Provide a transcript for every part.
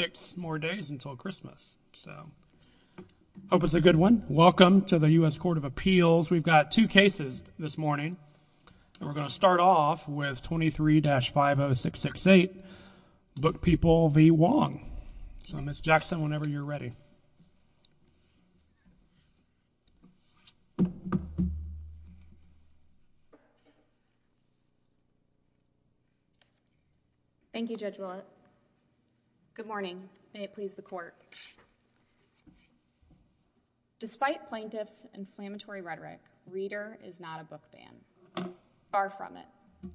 six more days until Christmas. So hope it's a good one. Welcome to the U.S. Court of Appeals. We've got two cases this morning. We're going to start off with 23-50668 Book People v. May it please the court. Despite plaintiff's inflammatory rhetoric, reader is not a book ban. Far from it.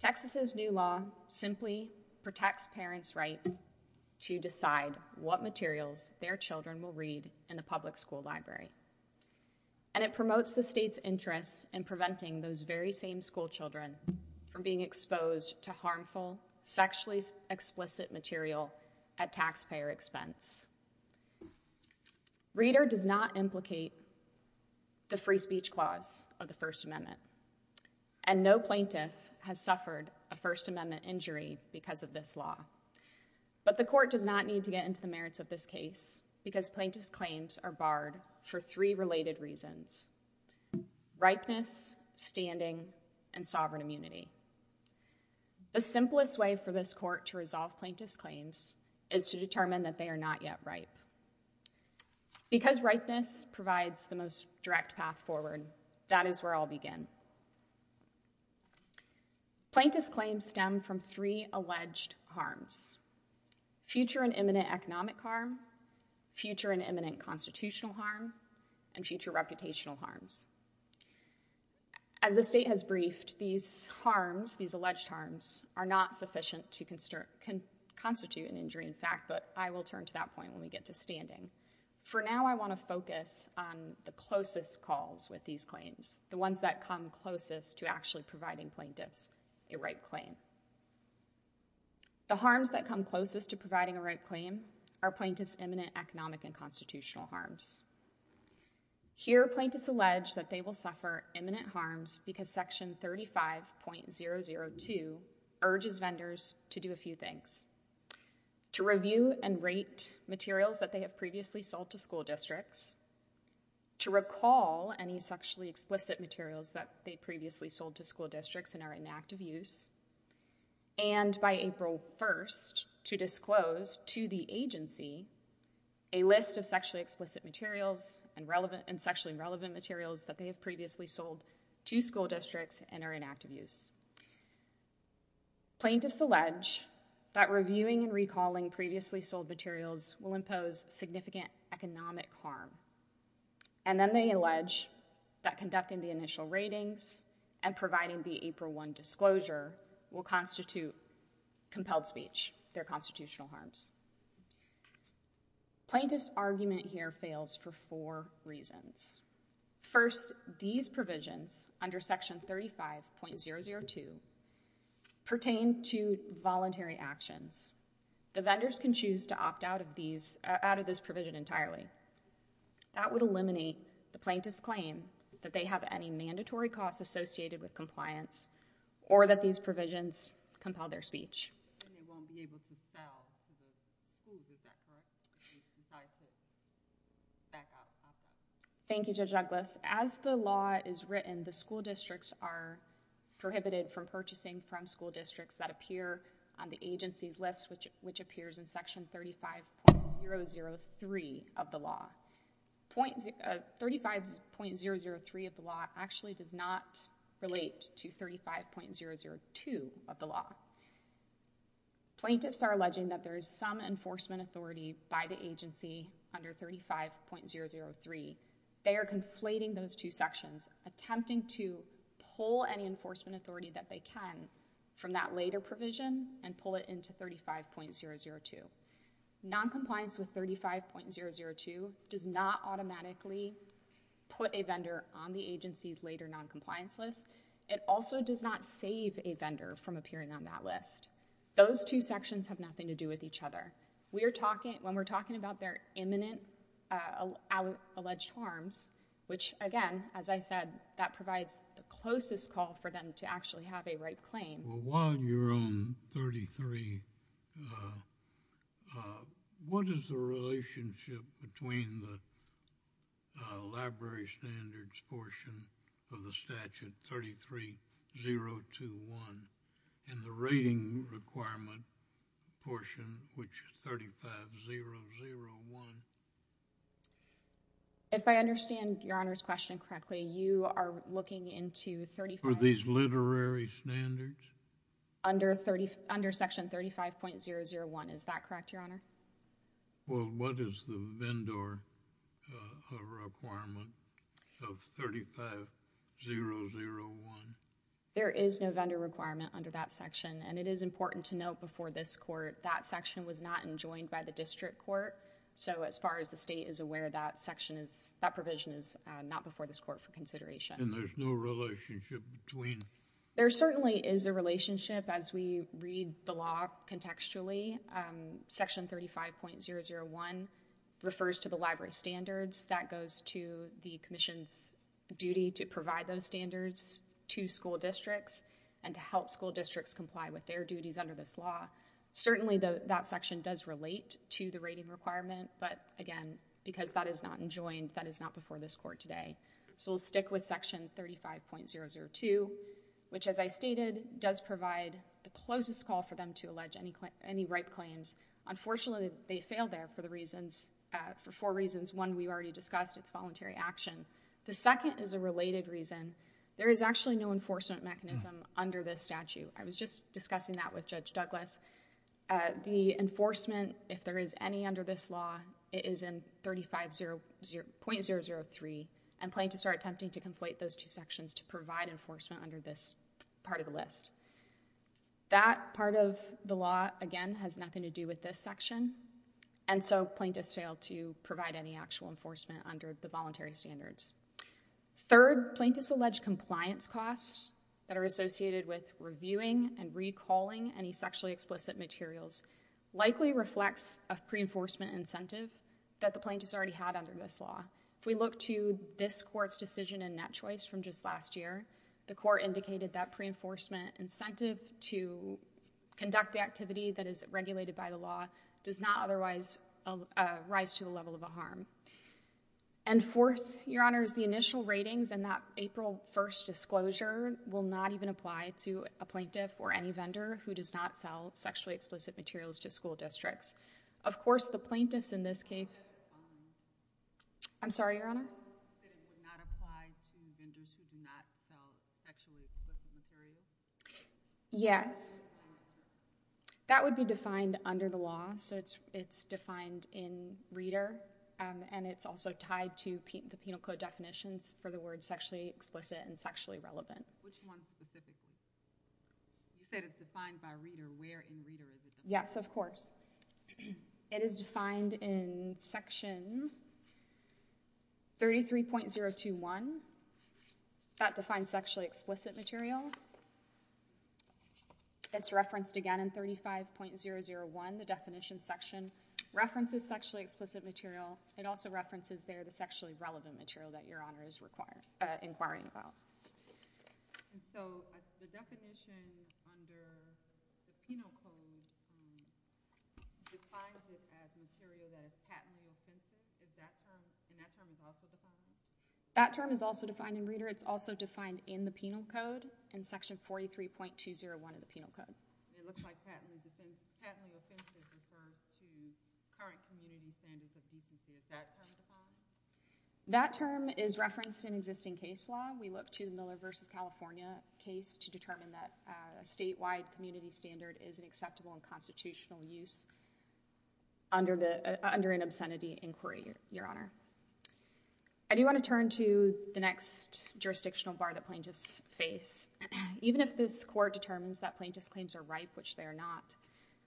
Texas's new law simply protects parents' rights to decide what materials their children will read in the public school library. And it promotes the state's interest in preventing those very same school from being exposed to harmful, sexually explicit material at taxpayer expense. Reader does not implicate the free speech clause of the First Amendment. And no plaintiff has suffered a First Amendment injury because of this law. But the court does not need to get into the merits of this case because plaintiff's claims are barred for three related reasons. Ripeness, standing, and sovereign immunity. The simplest way for this court to resolve plaintiff's claims is to determine that they are not yet ripe. Because ripeness provides the most direct path forward, that is where I'll begin. Plaintiff's claims stem from three alleged harms. Future and imminent economic harm, future and imminent constitutional harm, and future reputational harms. As the state has briefed, these harms, these alleged harms, are not sufficient to constitute an injury in fact, but I will turn to that point when we get to standing. For now, I want to focus on the closest calls with these claims, the ones that come closest to actually providing plaintiffs a right claim. The harms that come closest to providing a right claim are plaintiff's imminent economic and constitutional harms. Here, plaintiffs allege that they will suffer imminent harms because section 35.002 urges vendors to do a few things. To review and rate materials that they have previously sold to school districts, to recall any sexually explicit materials that they previously sold to school districts and are inactive use, and by April 1st to disclose to the agency a list of sexually explicit materials and relevant and sexually relevant materials that they have previously sold to school districts and are inactive use. Plaintiffs allege that reviewing and recalling previously sold materials will impose significant economic harm and then they allege that conducting the initial ratings and providing the April 1 disclosure will constitute compelled speech, their constitutional harms. Plaintiff's argument here fails for four reasons. First, these provisions under section 35.002 pertain to voluntary actions. The vendors can choose to opt out of these, out of this provision entirely. That would eliminate the plaintiff's claim that they have any mandatory costs associated with compliance or that these provisions compel their speech. Then they won't be able to sell to the school, is that correct? Thank you, Judge Douglas. As the law is written, the school districts are that appear on the agency's list, which appears in section 35.003 of the law. 35.003 of the law actually does not relate to 35.002 of the law. Plaintiffs are alleging that there is some enforcement authority by the agency under 35.003. They are conflating those two sections, attempting to pull any enforcement authority that they can from that later provision and pull it into 35.002. Noncompliance with 35.002 does not automatically put a vendor on the agency's later noncompliance list. It also does not save a vendor from appearing on that list. Those two sections have nothing to do with each other. When we're talking about their imminent alleged harms, which again, as I said, that provides the closest call for them to actually have a right claim. Well, while you're on 33, what is the relationship between the library standards portion of the statute 33.021 and the rating requirement portion, which is 35.001? If I understand Your Honor's question correctly, you are looking into 35.001. For these literary standards? Under section 35.001. Is that correct, Your Honor? Well, what is the vendor requirement of 35.001? There is no vendor requirement under that section and it is important to note before this court, that section was not enjoined by the district court. So as far as the state is aware, that section is, that provision is not before this court for consideration. And there's no relationship between? There certainly is a relationship as we read the law contextually. Section 35.001 refers to the library standards that goes to the commission's duty to provide those standards to school districts and to help school districts comply with their duties under this law. Certainly that section does relate to the rating requirement, but again, because that is not enjoined, that is not before this court today. So we'll stick with section 35.002, which as I stated, does provide the closest call for them to allege any ripe claims. Unfortunately, they fail there for the reasons, for four reasons. One, we already discussed, it's voluntary action. The second is a related reason. There is actually no enforcement mechanism under this statute. I was just discussing that with Judge Douglas. The enforcement, if there is any under this law, it is in 35.003. And plaintiffs are attempting to conflate those two sections to provide enforcement under this part of the list. That part of the law, again, has nothing to do with this section. And so plaintiffs fail to provide any actual enforcement under the voluntary standards. Third, plaintiffs' alleged compliance costs that are associated with reviewing and recalling any sexually explicit materials likely reflects a pre-enforcement incentive that the plaintiffs already had under this law. If we look to this court's decision in Net Choice from just last year, the court indicated that pre-enforcement incentive to conduct the activity that is regulated by the law does not otherwise rise to the level of a harm. And fourth, Your Honor, is the initial ratings and that April 1st disclosure will not even apply to a plaintiff or any vendor who does not sell sexually explicit materials to school districts. Of course, the plaintiffs in this case... I'm sorry, Your Honor? The plaintiffs did not apply to vendors who do not sell sexually explicit materials? Yes. That would be defined under the law. So it's defined in Reader, and it's also tied to the Penal Code definitions for the words sexually explicit and sexually relevant. Which one specifically? You said it's defined by Reader. Where in Reader is it? Yes, of course. It is defined in Section 33.021. That defines sexually explicit material. It's referenced, again, in 35.001, the definition section, references sexually explicit material. It also references there the sexually relevant material that Your Honor is inquiring about. So the definition under the Penal Code defines it as material that is patently offensive. Is that term, and that term is also defined in Reader? That term is also defined in Reader. It's also defined in the Penal Code. In Section 43.201 of the Penal Code. It looks like patently offensive refers to current community standards of decency. Is that term defined? That term is referenced in existing case law. We look to the Miller v. California case to determine that a statewide community standard is an acceptable and constitutional use under an obscenity inquiry, Your Honor. I do want to turn to the next jurisdictional bar that plaintiffs face. Even if this court determines that plaintiffs' claims are ripe, which they are not,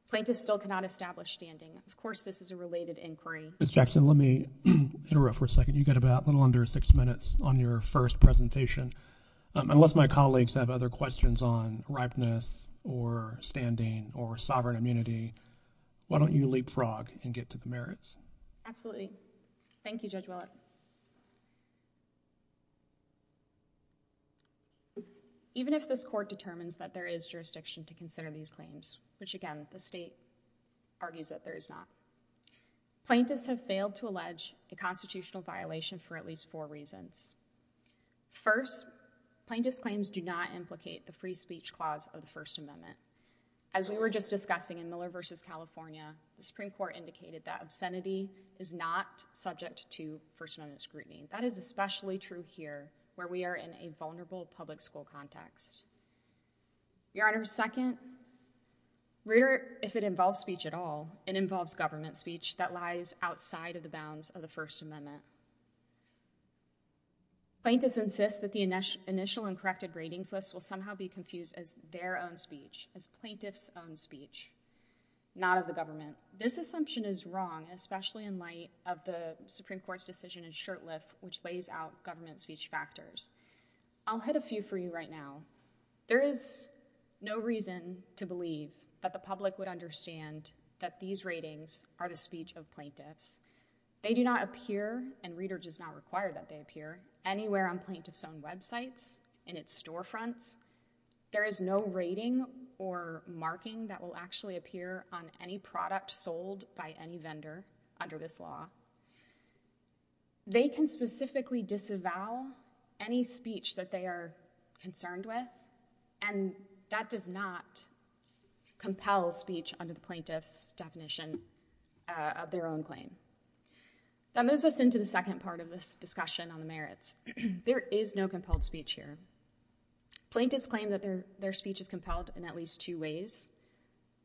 plaintiffs still cannot establish standing. Of course, this is a related inquiry. Ms. Jackson, let me interrupt for a second. You've got about a little under six minutes on your first presentation. Unless my colleagues have other questions on ripeness or standing or sovereign immunity, why don't you leapfrog and get to the merits? Absolutely. Thank you. Judge Willett. Even if this court determines that there is jurisdiction to consider these claims, which again, the state argues that there is not, plaintiffs have failed to allege a constitutional violation for at least four reasons. First, plaintiffs' claims do not implicate the free speech clause of the First Amendment. As we were just discussing in Miller v. California, the Supreme Court indicated that obscenity is not subject to First Amendment scrutiny. That is especially true here where we are in a vulnerable public school context. Your Honor, second, if it involves speech at all, it involves government speech that lies outside of the bounds of the First Amendment. Plaintiffs insist that the initial uncorrected ratings list will somehow be confused as as plaintiffs' own speech, not of the government. This assumption is wrong, especially in light of the Supreme Court's decision in Shurtleff, which lays out government speech factors. I'll hit a few for you right now. There is no reason to believe that the public would understand that these ratings are the speech of plaintiffs. They do not appear, and reader does not require that they appear, anywhere on plaintiffs' own websites, in its storefronts. There is no rating or marking that will actually appear on any product sold by any vendor under this law. They can specifically disavow any speech that they are concerned with, and that does not compel speech under the plaintiff's definition of their own claim. That moves us into the second part of this discussion on the merits. There is no compelled speech here. Plaintiffs claim that their speech is compelled in at least two ways.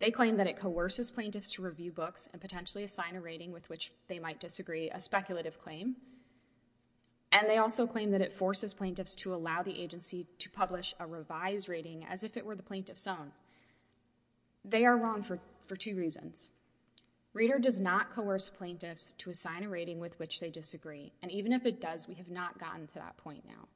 They claim that it coerces plaintiffs to review books and potentially assign a rating with which they might disagree, a speculative claim. And they also claim that it forces plaintiffs to allow the agency to publish a revised rating as if it were the plaintiff's own. They are wrong for two reasons. Reader does not coerce plaintiffs to assign a rating with which they disagree, and even if it does, we have not gotten to that point now.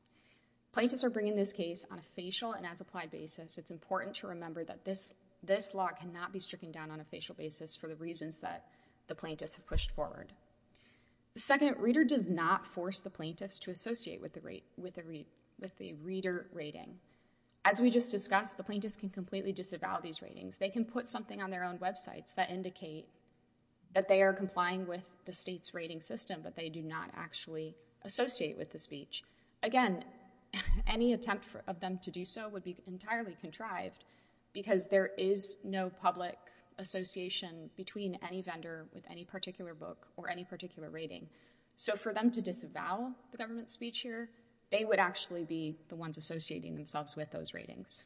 Plaintiffs are bringing this case on a facial and as-applied basis. It's important to remember that this law cannot be stricken down on a facial basis for the reasons that the plaintiffs have pushed forward. Second, reader does not force the plaintiffs to associate with the reader rating. As we just discussed, the plaintiffs can completely disavow these ratings. They can put something on their own websites that indicate that they are complying with the state's rating system, but they do not actually associate with the speech. Again, any attempt of them to do so would be entirely contrived because there is no public association between any vendor with any particular book or any particular rating. So for them to disavow the government's speech here, they would actually be the ones associating themselves with those ratings.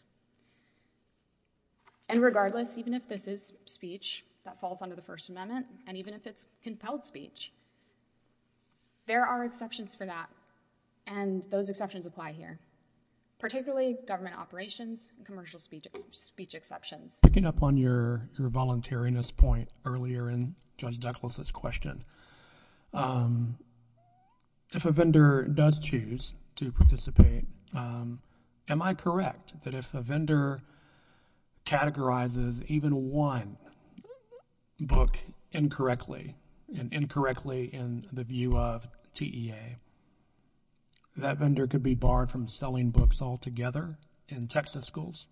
And regardless, even if this is speech that falls under the First Amendment, and even if it's compelled speech, there are exceptions for that. And those exceptions apply here, particularly government operations and commercial speech exceptions. Picking up on your voluntariness point earlier in Judge Douglas' question, if a vendor does choose to participate, am I correct that if a vendor categorizes even one book incorrectly, and incorrectly in the view of TEA, that vendor could be barred from selling books altogether in Texas schools?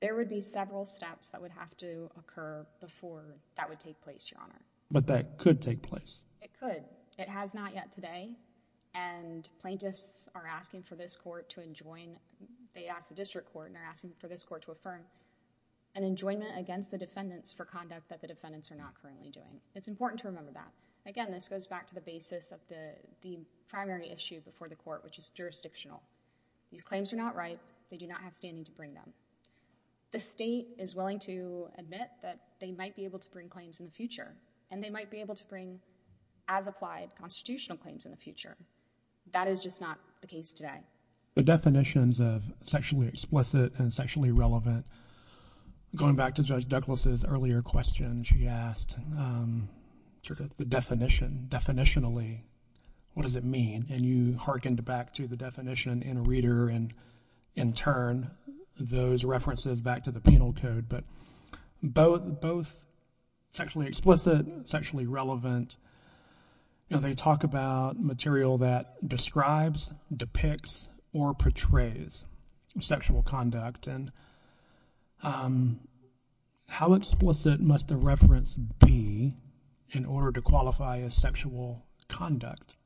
There would be several steps that would have to occur before that would take place, Your Honor. But that could take place? It could. It has not yet today, and plaintiffs are asking for this court to enjoin, they ask the district court and they're asking for this court to affirm an enjoinment against the defendants for conduct that the defendants are not currently doing. It's important to remember that. Again, this goes back to the basis of the primary issue before the court, which is jurisdictional. These claims are not right, they do not have standing to bring them. The state is willing to admit that they might be able to bring claims in the future, and they might be able to bring, as applied, constitutional claims in the future. That is just not the case today. The definitions of sexually explicit and sexually relevant, going back to Judge Douglas' earlier question she asked, the definition, definitionally, what does it mean? And you hearkened back to the definition in a reader, and in turn, those references back to the penal code. But both sexually explicit and sexually relevant, you know, they talk about material that describes, depicts, or portrays sexual conduct. And how explicit must the reference be in order to qualify as sexual conduct?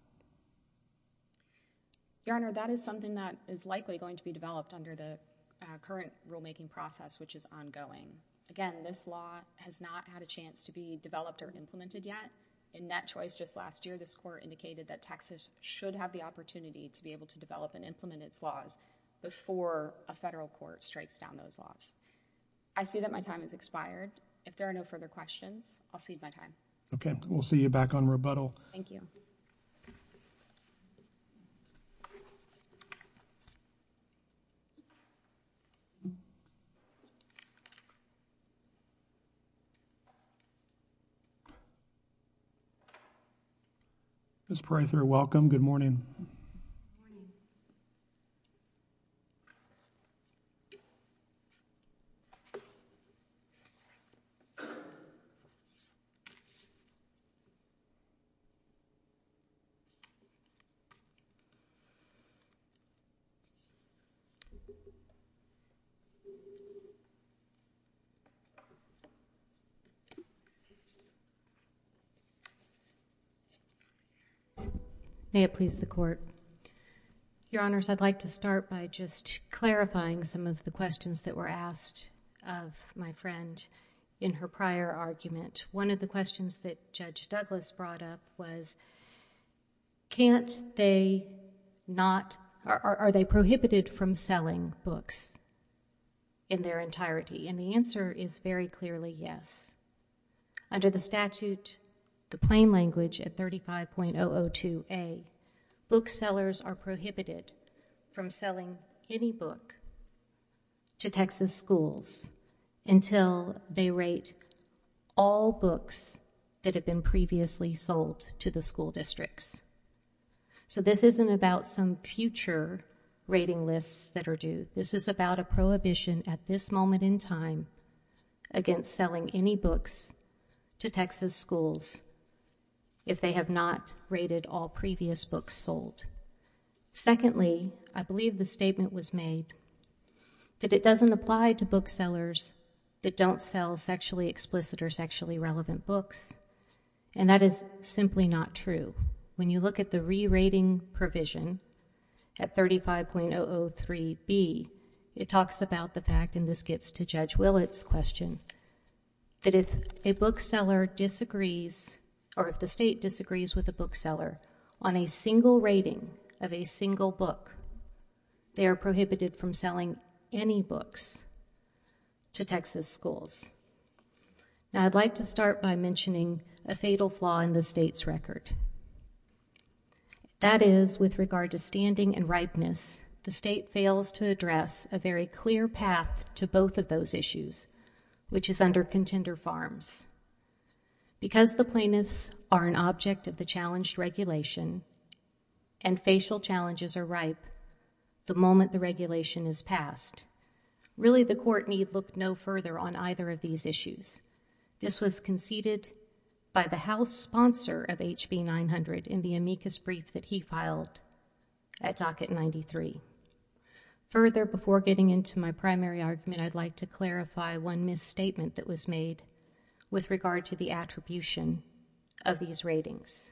Your Honor, that is something that is likely going to be developed under the current rulemaking process, which is ongoing. Again, this law has not had a chance to be developed or implemented yet. In that choice just last year, this court indicated that Texas should have the opportunity to be able to develop and implement its laws before a federal court strikes down those laws. I see that my time has expired. If there are no further questions, I'll cede my time. Okay, we'll see you back on rebuttal. Thank you. Ms. Parether, welcome. Good morning. Thank you. May it please the Court. Your Honors, I'd like to start by just clarifying some of the questions that were asked of my friend in her prior argument. One of the questions that Judge Douglas brought up was, can't they not, are they prohibited from selling books in their entirety? And the answer is very clearly yes. Under the statute, the plain language at 35.002A, booksellers are prohibited from selling any book to Texas schools until they rate all books that have been previously sold to the school districts. So this isn't about some future rating lists that are due. This is about a prohibition at this moment in time against selling any books to Texas schools if they have not rated all previous books sold. Secondly, I believe the statement was made that it doesn't apply to booksellers that don't sell sexually explicit or sexually relevant books, and that is simply not true. When you look at the re-rating provision at 35.003B, it talks about the fact, and this gets to Judge Willett's question, that if a bookseller disagrees, or if the state disagrees with a bookseller on a single rating of a single book, they are prohibited from selling any books to Texas schools. Now, I'd like to start by mentioning a fatal flaw in the state's record. That is, with regard to standing and ripeness, the state fails to address a very clear path to both of those issues, which is under contender farms. Because the plaintiffs are an object of the challenged regulation and facial challenges are ripe the moment the regulation is passed, really the court need look no further on either of these issues. This was conceded by the House sponsor of HB 900 in the amicus brief that he filed at docket 93. Further, before getting into my primary argument, I'd like to clarify one misstatement that was made with regard to the attribution of these ratings.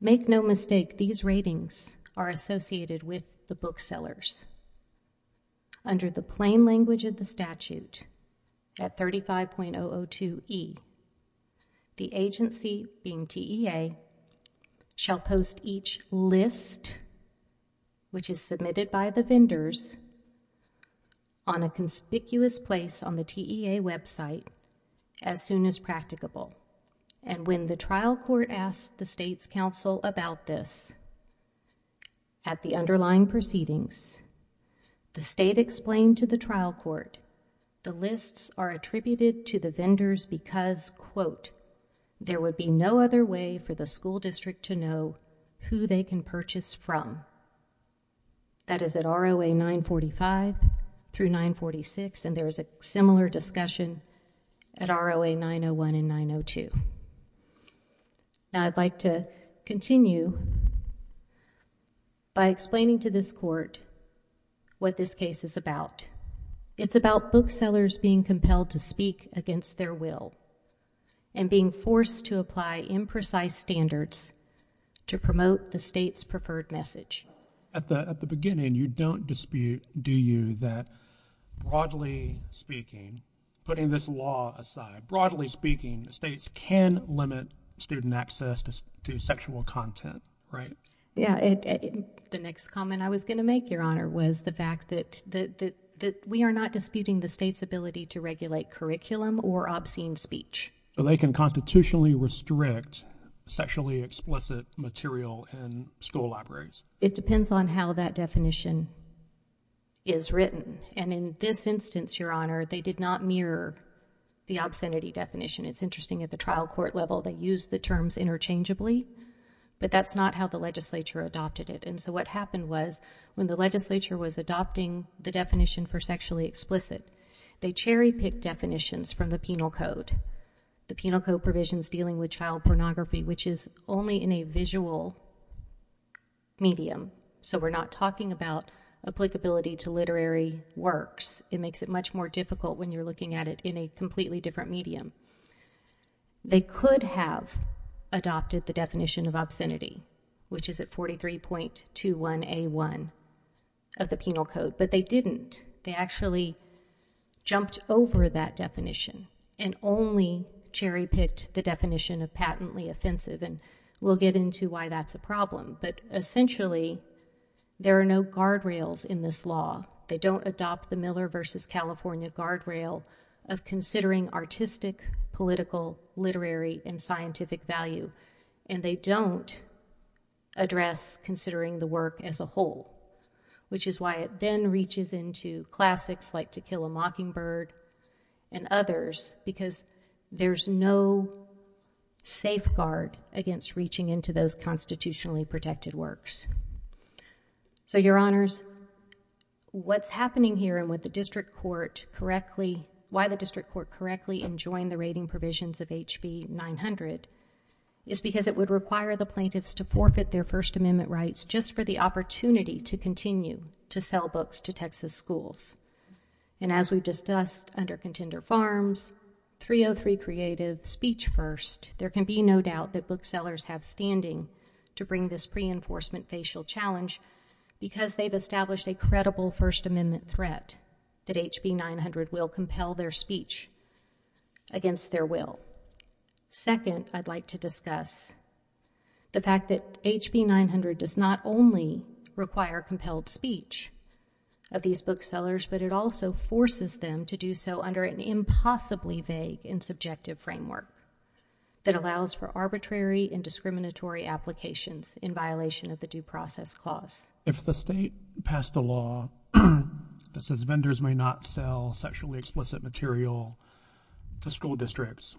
Make no mistake, these ratings are associated with the booksellers. Under the plain language of the statute at 35.002e, the agency, being TEA, shall post each list, which is submitted by the vendors, on a conspicuous place on the TEA website as soon as practicable. And when the trial court asks the state's counsel about this at the underlying proceedings, the state explained to the trial court, the lists are attributed to the vendors because, quote, there would be no other way for the school district to know who they can purchase from. That is at ROA 945 through 946, and there is a similar discussion at ROA 901 and 902. Now, I'd like to continue by explaining to this court what this case is about. It's about booksellers being compelled to speak against their will and being forced to apply imprecise standards to promote the state's preferred message. At the beginning, you don't dispute, do you, that broadly speaking, putting this law aside, broadly speaking, the states can limit student access to sexual content, right? Yeah, the next comment I was going to make, Your Honor, was the fact that we are not disputing the state's ability to regulate curriculum or obscene speech. So they can constitutionally restrict sexually explicit material in school libraries. It depends on how that definition is written. And in this instance, Your Honor, they did not mirror the obscenity definition. It's interesting, at the trial court level, they used the terms interchangeably, but that's not how the legislature adopted it. And so what happened was, when the legislature was adopting the definition for sexually explicit, they cherry-picked definitions from the penal code, the penal code provisions dealing with child pornography, which is only in a visual medium. So we're not talking about applicability to literary works. It makes it much more difficult when you're looking at it in a completely different medium. They could have adopted the definition of obscenity, which is at 43.21a1 of the penal code, but they didn't. They actually jumped over that definition and only cherry-picked the definition of patently offensive. And we'll get into why that's a problem. But essentially, there are no guardrails in this law. They don't adopt the Miller versus California guardrail of considering artistic, political, literary, and scientific value. And they don't address considering the work as a whole, which is why it then reaches into classics like To Kill a Mockingbird and others, because there's no safeguard against reaching into those constitutionally protected works. So, Your Honors, what's happening here and why the district court correctly enjoined the rating provisions of HB 900 is because it would require the plaintiffs to forfeit their First Amendment rights just for the opportunity to continue to sell books to Texas schools. And as we've discussed under Contender Farms, 303 Creative, Speech First, there can be no doubt that booksellers have standing to bring this pre-enforcement facial challenge because they've established a credible First Amendment threat that HB 900 will compel their speech against their will. Second, I'd like to discuss the fact that HB 900 does not only require compelled speech of these booksellers, but it also forces them to do so under an impossibly vague and subjective framework that allows for arbitrary and discriminatory applications in violation of the Due Process Clause. If the state passed a law that says vendors may not sell sexually explicit material to school districts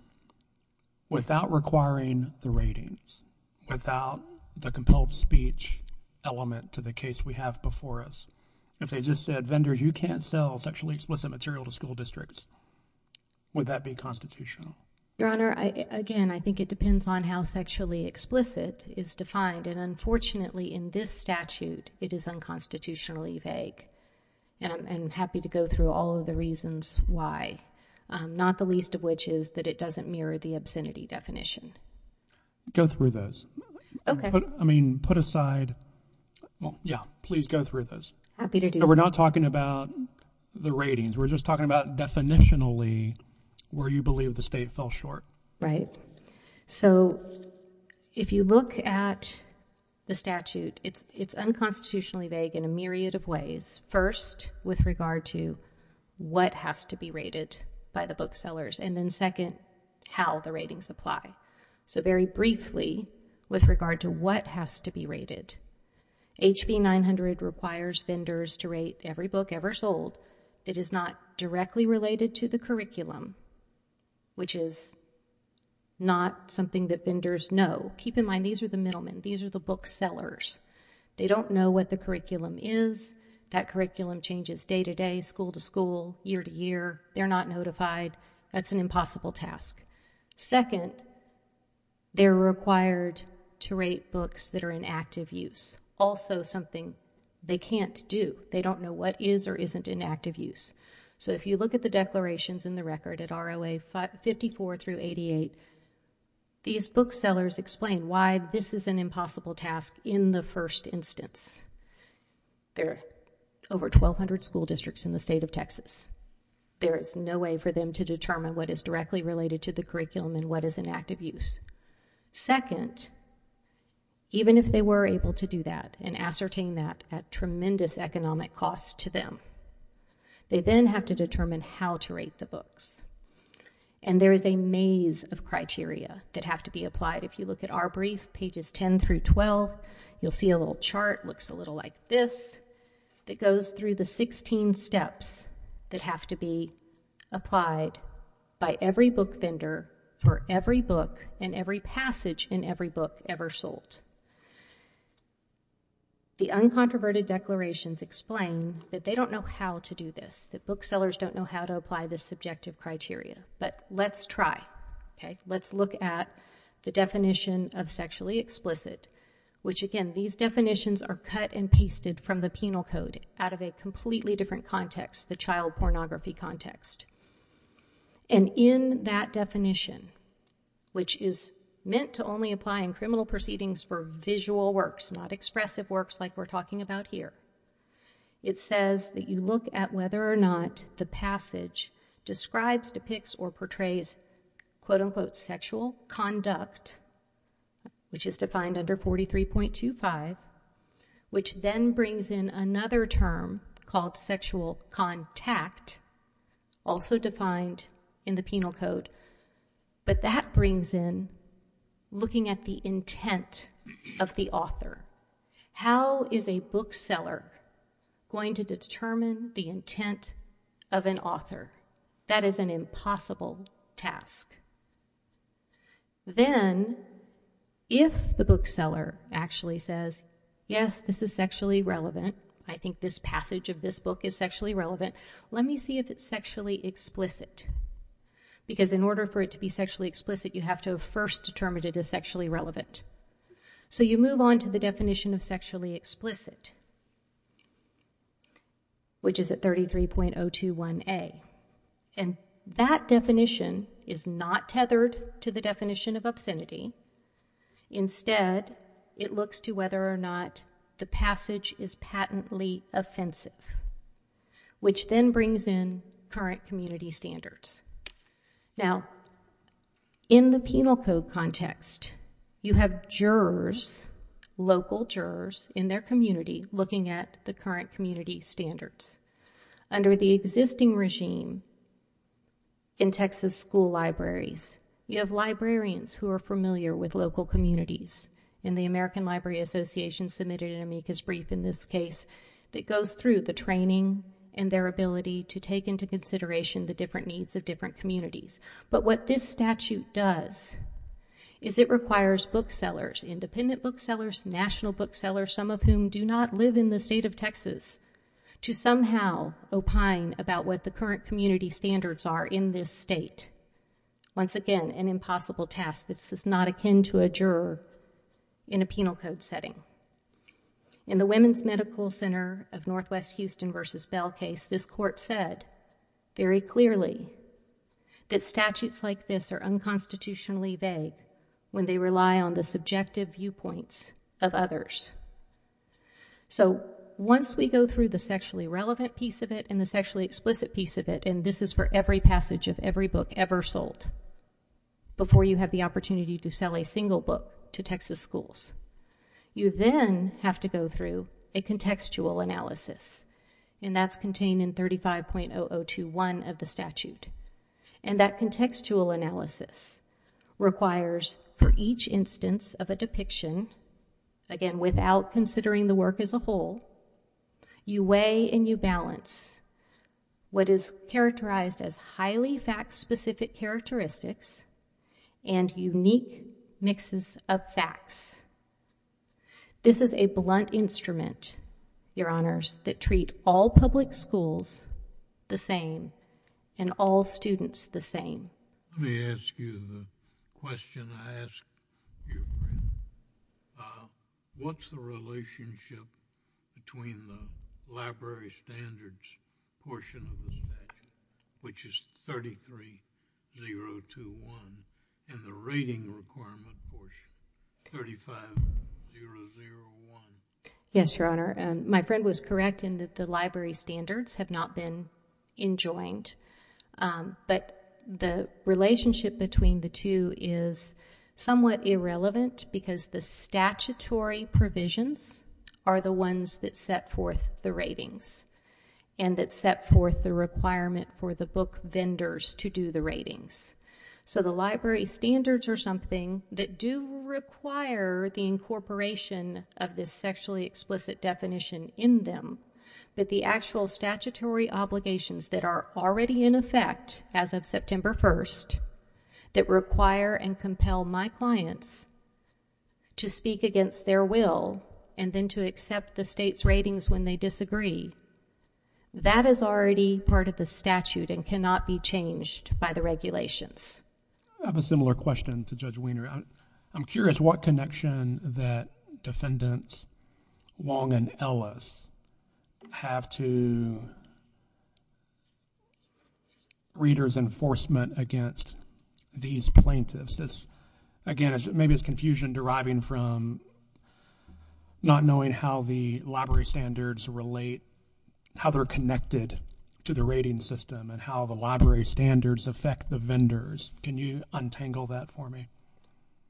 without requiring the ratings, without the compelled speech element to the case we have before us, if they just said, vendors, you can't sell sexually explicit material to school districts, would that be constitutional? Your Honor, again, I think it depends on how sexually explicit is defined. And unfortunately, in this statute, it is unconstitutionally vague. And I'm happy to go through all of the reasons why, not the least of which is that it doesn't mirror the obscenity definition. Go through those. Okay. I mean, put aside. Yeah, please go through those. Happy to do so. We're not talking about the ratings. We're just talking about definitionally where you believe the state fell short. Right. So if you look at the statute, it's unconstitutionally vague in a myriad of ways. First, with regard to what has to be rated by the booksellers. And then second, how the ratings apply. So very briefly, with regard to what has to be rated, HB 900 requires vendors to rate every book ever sold. It is not directly related to the curriculum, which is not something that vendors know. Keep in mind, these are the middlemen. These are the booksellers. They don't know what the curriculum is. That curriculum changes day to day, school to school, year to year. They're not notified. That's an impossible task. Second, they're required to rate books that are in active use. Also something they can't do. They don't know what is or isn't in active use. So if you look at the declarations in the record at ROA 54 through 88, these booksellers explain why this is an impossible task in the first instance. There are over 1,200 school districts in the state of Texas. There is no way for them to determine what is directly related to the curriculum and what is in active use. Second, even if they were able to do that and ascertain that at tremendous economic cost to them, they then have to determine how to rate the books. And there is a maze of criteria that have to be applied. If you look at our brief, pages 10 through 12, you'll see a little chart, looks a little like this, that goes through the 16 steps that have to be applied by every book vendor for every book and every passage in every book ever sold. The uncontroverted declarations explain that they don't know how to do this, that booksellers don't know how to apply this subjective criteria. But let's try, okay? Let's look at the definition of sexually explicit, which again, these definitions are cut and pasted from the penal code out of a completely different context, the child pornography context. And in that definition, which is meant to only apply in criminal proceedings for visual works, not expressive works, like we're talking about here. It says that you look at whether or not the passage describes, depicts, or portrays, quote unquote, sexual conduct, which is defined under 43.25, which then brings in another term called sexual contact, But that brings in looking at the intent of the author. How is a bookseller going to determine the intent of an author? That is an impossible task. Then if the bookseller actually says, yes, this is sexually relevant, I think this passage of this book is sexually relevant, let me see if it's sexually explicit. Because in order for it to be sexually explicit, you have to have first determined it is sexually relevant. So you move on to the definition of sexually explicit, which is at 33.021A. And that definition is not tethered to the definition of obscenity. Instead, it looks to whether or not the passage is patently offensive, which then brings in current community standards. Now, in the penal code context, you have jurors, local jurors in their community looking at the current community standards. Under the existing regime in Texas school libraries, you have librarians who are familiar with local communities. In the American Library Association submitted an amicus brief in this case that goes through the training and their ability to take into consideration the different needs of different communities. But what this statute does is it requires booksellers, independent booksellers, national booksellers, some of whom do not live in the state of Texas, to somehow opine about what the current community standards are in this state. Once again, an impossible task. This is not akin to a juror in a penal code setting. In the Women's Medical Center of Northwest Houston versus Bell case, this court said very clearly that statutes like this are unconstitutionally vague when they rely on the subjective viewpoints of others. So once we go through the sexually relevant piece of it and the sexually explicit piece of it, and this is for every passage of every book ever sold before you have the opportunity to sell a single book to Texas schools, you then have to go through a contextual analysis. And that's contained in 35.0021 of the statute. And that contextual analysis requires for each instance of a depiction, again, without considering the work as a whole, you weigh and you balance what is characterized as highly fact-specific characteristics and unique mixes of facts. This is a blunt instrument, your honors, that treat all public schools the same and all students the same. Let me ask you the question I asked your friend. What's the relationship between the library standards portion of the statute, which is 33.021, and the rating requirement portion, 35.001? Yes, your honor. My friend was correct in that the library standards have not been enjoined. But the relationship between the two is somewhat irrelevant because the statutory provisions are the ones that set forth the ratings and that set forth the requirement for the book vendors to do the ratings. So the library standards are something that do require the incorporation of this sexually explicit definition in them. But the actual statutory obligations that are already in effect as of September 1st that require and compel my clients to speak against their will and then to accept the state's ratings when they disagree, that is already part of the statute and cannot be changed by the regulations. I have a similar question to Judge Wiener. I'm curious what connection that defendants Wong and Ellis have to readers' enforcement against these plaintiffs. Again, maybe it's confusion deriving from not knowing how the library standards relate, how they're connected to the rating system and how the library standards affect the vendors. Can you untangle that for me?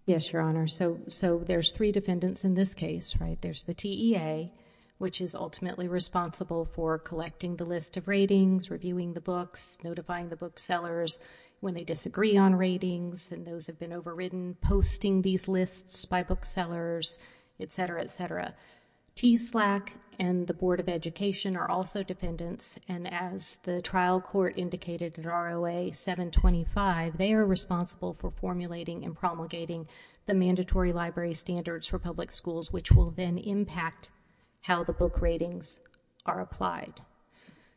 Yes, Your Honor. So there's three defendants in this case, right? There's the TEA, which is ultimately responsible for collecting the list of ratings, reviewing the books, notifying the booksellers when they disagree on ratings and those have been overridden, posting these lists by booksellers, et cetera, et cetera. TSLAC and the Board of Education are also defendants and as the trial court indicated in ROA 725, they are responsible for formulating and promulgating the mandatory library standards for public schools, which will then impact how the book ratings are applied.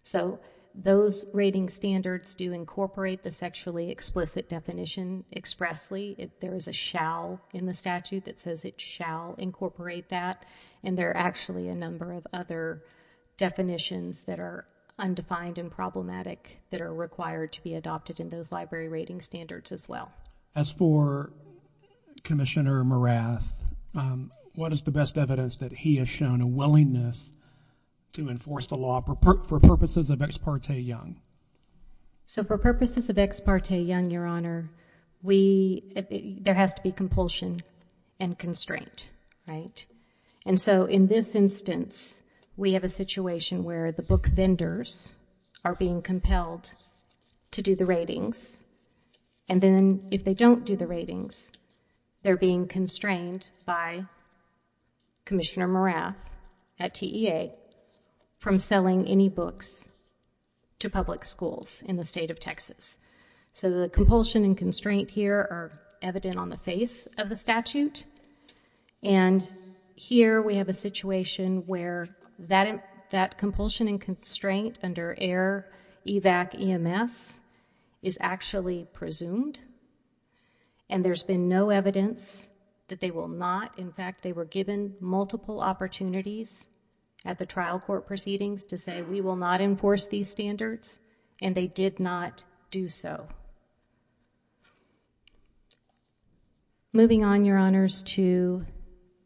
So those rating standards do incorporate the sexually explicit definition expressly. There is a shall in the statute that says it shall incorporate that and there are actually a number of other definitions that are undefined and problematic that are required to be adopted in those library rating standards as well. As for Commissioner Morath, what is the best evidence that he has shown a willingness to enforce the law for purposes of Ex parte Young? So for purposes of Ex parte Young, Your Honor, there has to be compulsion and constraint, right? And so in this instance, we have a situation where the book vendors are being compelled to do the ratings and then if they don't do the ratings, they're being constrained by Commissioner Morath at TEA from selling any books to public schools in the state of Texas. So the compulsion and constraint here are evident on the face of the statute and here we have a situation where that compulsion and constraint under EIR, EVAC, EMS is actually presumed and there's been no evidence that they will not. In fact, they were given multiple opportunities at the trial court proceedings to say we will not enforce these standards and they did not do so. Moving on, Your Honors, to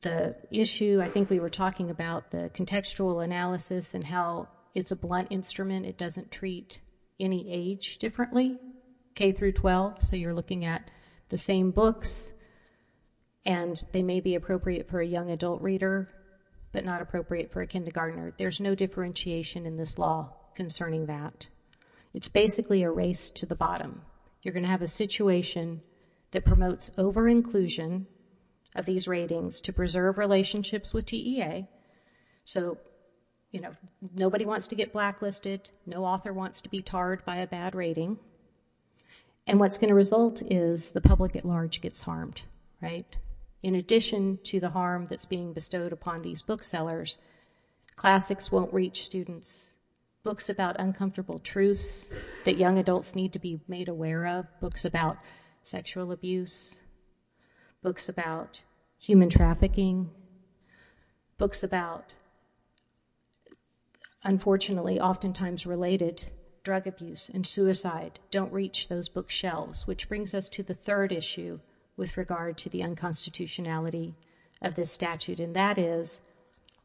the issue, I think we were talking about the contextual analysis and how it's a blunt instrument. It doesn't treat any age differently, K through 12. So you're looking at the same books and they may be appropriate for a young adult reader but not appropriate for a kindergartner. There's no differentiation in this law concerning that. It's basically a race to the bottom. You're gonna have a situation that promotes over inclusion of these ratings to preserve relationships with TEA. So nobody wants to get blacklisted, no author wants to be tarred by a bad rating and what's gonna result is the public at large gets harmed. In addition to the harm that's being bestowed upon these booksellers, classics won't reach students. Books about uncomfortable truths that young adults need to be made aware of, books about sexual abuse, books about human trafficking, books about, unfortunately, oftentimes related drug abuse and suicide don't reach those bookshelves, which brings us to the third issue with regard to the unconstitutionality of this statute and that is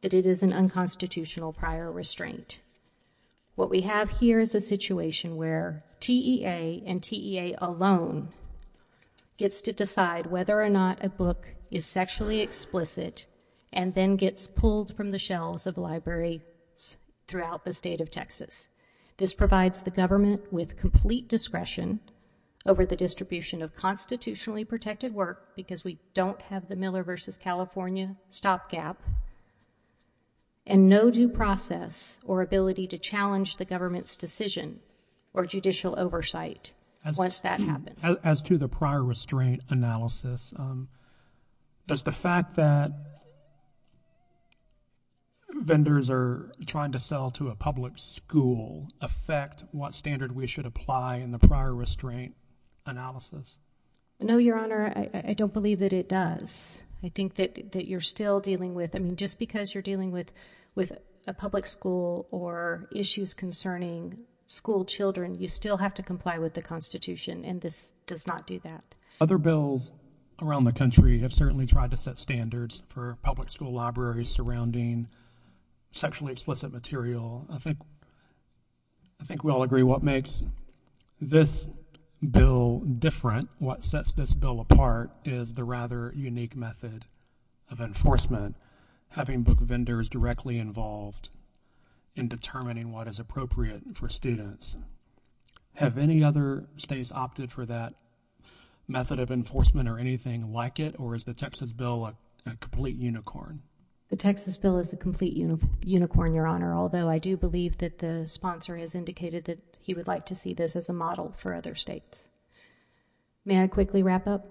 that it is an unconstitutional prior restraint. What we have here is a situation where TEA and TEA alone gets to decide whether or not a book is sexually explicit and then gets pulled from the shelves of libraries throughout the state of Texas. This provides the government with complete discretion over the distribution of constitutionally protected work because we don't have the Miller versus California stopgap and no due process or ability to challenge the government's decision or judicial oversight once that happens. As to the prior restraint analysis, does the fact that vendors are trying to sell to a public school affect what standard we should apply in the prior restraint analysis? No, Your Honor, I don't believe that it does. I think that you're still dealing with, I mean, just because you're dealing with a public school or issues concerning school children, you still have to comply with the constitution and this does not do that. Other bills around the country have certainly tried to set standards for public school libraries surrounding sexually explicit material. I think we all agree what makes this bill different, what sets this bill apart is the rather unique method of enforcement, having book vendors directly involved in determining what is appropriate for students. Have any other states opted for that method of enforcement or anything like it? Or is the Texas bill a complete unicorn? The Texas bill is a complete unicorn, Your Honor, although I do believe that the sponsor has indicated that he would like to see this as a model for other states. May I quickly wrap up?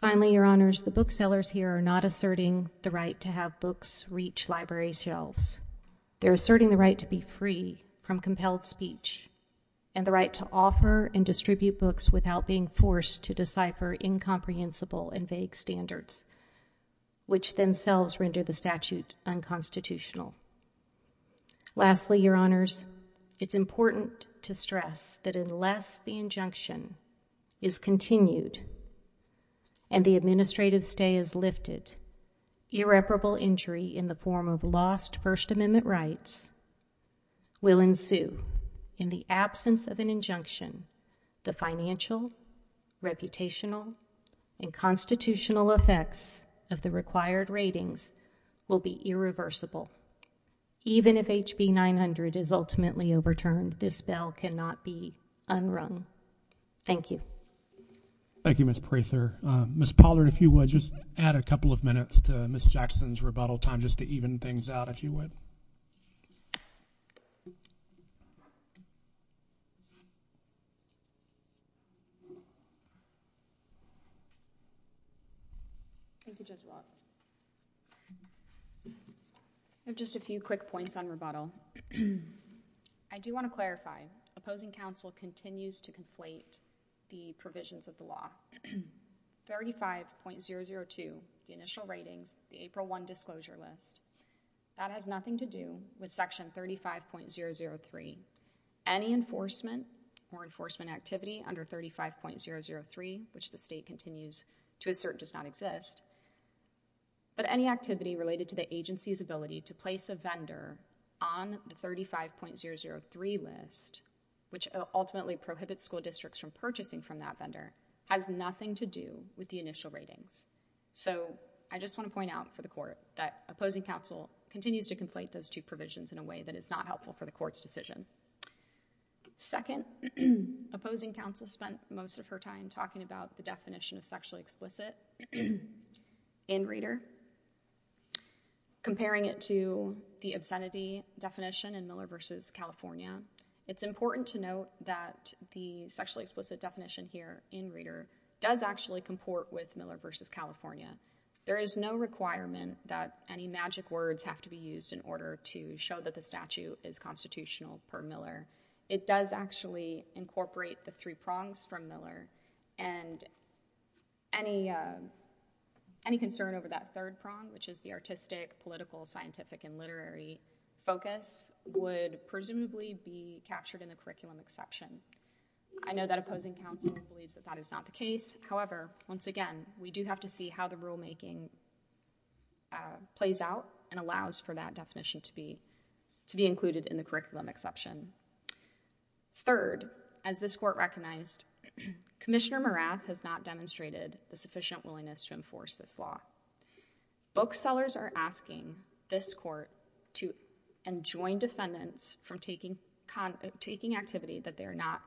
Finally, Your Honors, the booksellers here are not asserting the right to have books reach library shelves. They're asserting the right to be free from compelled speech and the right to offer and distribute books without being forced to decipher incomprehensible and vague standards which themselves render the statute unconstitutional. Lastly, Your Honors, it's important to stress that unless the injunction is continued and the administrative stay is lifted, irreparable injury in the form of lost First Amendment rights will ensue. In the absence of an injunction, the financial, reputational, and constitutional effects of the required ratings will be irreversible. Even if HB 900 is ultimately overturned, this bill cannot be unwrung. Thank you. Thank you, Ms. Prather. Ms. Pollard, if you would, just add a couple of minutes to Ms. Jackson's rebuttal time just to even things out, if you would. Thank you, Judge Watt. I have just a few quick points on rebuttal. I do want to clarify, opposing counsel continues to conflate the provisions of the law. 35.002, the initial ratings, the April 1 disclosure list, that has nothing to do with section 35.003. Any enforcement or enforcement activity under 35.003, which the state continues to assert does not exist, but any activity related to the agency's ability to place a vendor on the 35.003 list, which ultimately prohibits school districts from purchasing from that vendor, has nothing to do with the initial ratings. I just want to point out for the court that opposing counsel continues to conflate those two provisions in a way that is not helpful for the court's decision. Second, opposing counsel spent most of her time talking about the definition of sexually explicit in Reader, comparing it to the obscenity definition in Miller v. California. It's important to note that the sexually explicit definition here in Reader does actually comport with Miller v. California. There is no requirement that any magic words have to be used in order to show that the statute is constitutional per Miller. It does actually incorporate the three prongs from Miller and any concern over that third prong, which is the artistic, political, scientific, and literary focus would presumably be captured in the curriculum exception. I know that opposing counsel believes that that is not the case. However, once again, we do have to see how the rulemaking plays out and allows for that definition to be included in the curriculum exception. Third, as this court recognized, Commissioner Marath has not demonstrated the sufficient willingness to enforce this law. Booksellers are asking this court to enjoin defendants from taking activity that they are not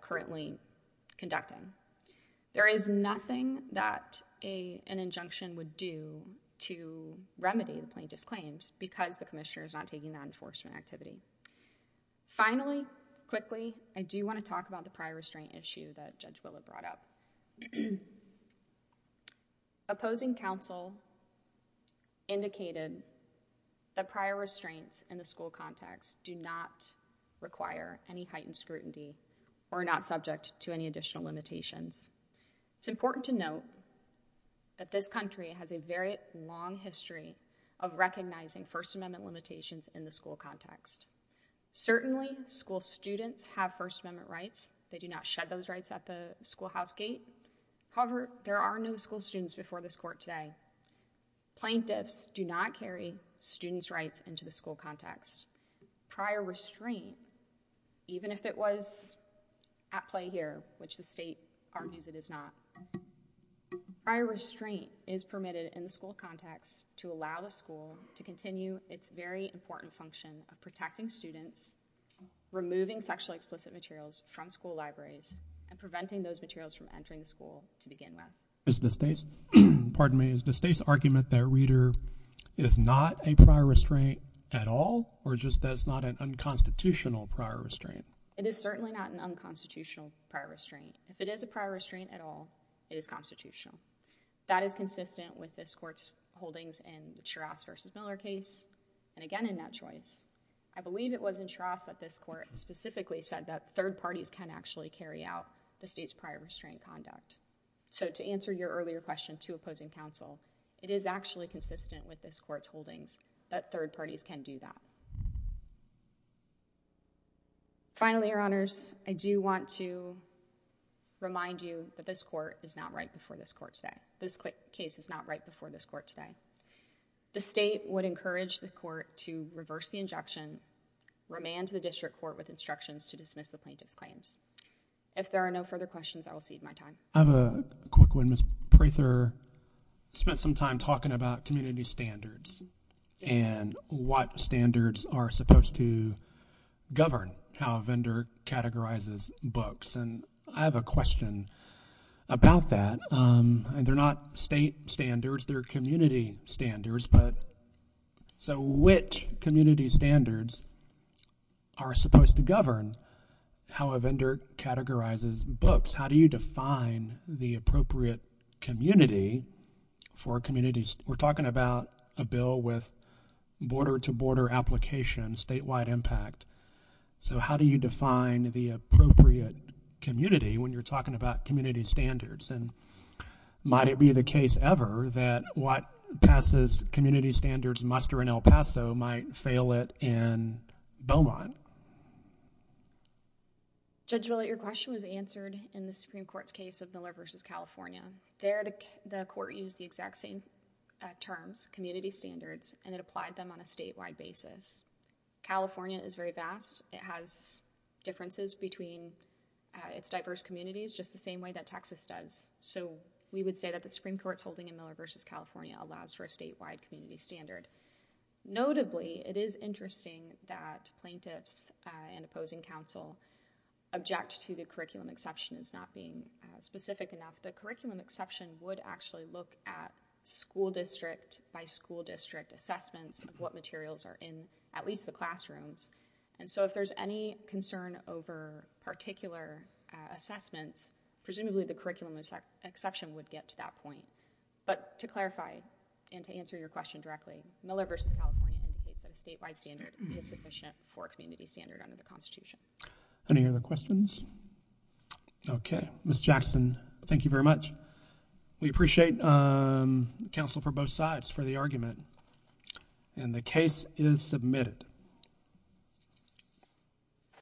currently conducting. There is nothing that an injunction would do to remedy the plaintiff's claims because the commissioner is not taking that enforcement activity. Finally, quickly, I do want to talk about the prior restraint issue that Judge Willard brought up. Opposing counsel indicated that prior restraints in the school context do not require any heightened scrutiny or not subject to any additional limitations. It's important to note that this country has a very long history of recognizing First Amendment limitations in the school context. Certainly, school students have First Amendment rights. They do not shed those rights at the schoolhouse gate. However, there are no school students before this court today. Plaintiffs do not carry students' rights into the school context. Prior restraint, even if it was at play here, which the state argues it is not, prior restraint is permitted in the school context to allow the school to continue its very important function of protecting students, removing sexually explicit materials from school libraries, and preventing those materials from entering the school to begin with. Is the state's argument that Reader is not a prior restraint at all or just that it's not an unconstitutional prior restraint? It is certainly not an unconstitutional prior restraint. If it is a prior restraint at all, it is constitutional. That is consistent with this court's holdings in the Shiraz versus Miller case and again in that choice. I believe it was in Shiraz that this court specifically said that third parties can actually carry out the state's prior restraint conduct. So to answer your earlier question to opposing counsel, it is actually consistent with this court's holdings that third parties can do that. Finally, Your Honors, I do want to remind you that this court is not right before this court today. This case is not right before this court today. The state would encourage the court to reverse the injunction, remand to the district court with instructions to dismiss the plaintiff's claims. If there are no further questions, I will cede my time. I have a quick one. Ms. Prather spent some time talking about community standards and what standards are supposed to govern how a vendor categorizes books. And I have a question about that. They're not state standards. They're community standards. But so which community standards are supposed to govern how a vendor categorizes books? How do you define the appropriate community for communities? We're talking about a bill with border-to-border application, statewide impact. So how do you define the appropriate community when you're talking about community standards? And might it be the case ever that what passes community standards muster in El Paso might fail it in Beaumont? Judge Willett, your question was answered in the Supreme Court's case of Miller v. California. There, the court used the exact same terms, community standards, and it applied them on a statewide basis. California is very vast. It has differences between its diverse communities just the same way that Texas does. So we would say that the Supreme Court's holding in Miller v. California allows for a statewide community standard. Notably, it is interesting that plaintiffs and opposing counsel object to the curriculum exception as not being specific enough. The curriculum exception would actually look at school district by school district assessments of what materials are in at least the classrooms. And so if there's any concern over particular assessments, presumably the curriculum exception would get to that point. But to clarify and to answer your question directly, Miller v. California indicates that a statewide standard is sufficient for a community standard under the Constitution. Any other questions? Okay, Ms. Jackson, thank you very much. We appreciate counsel for both sides for the argument. And the case is submitted.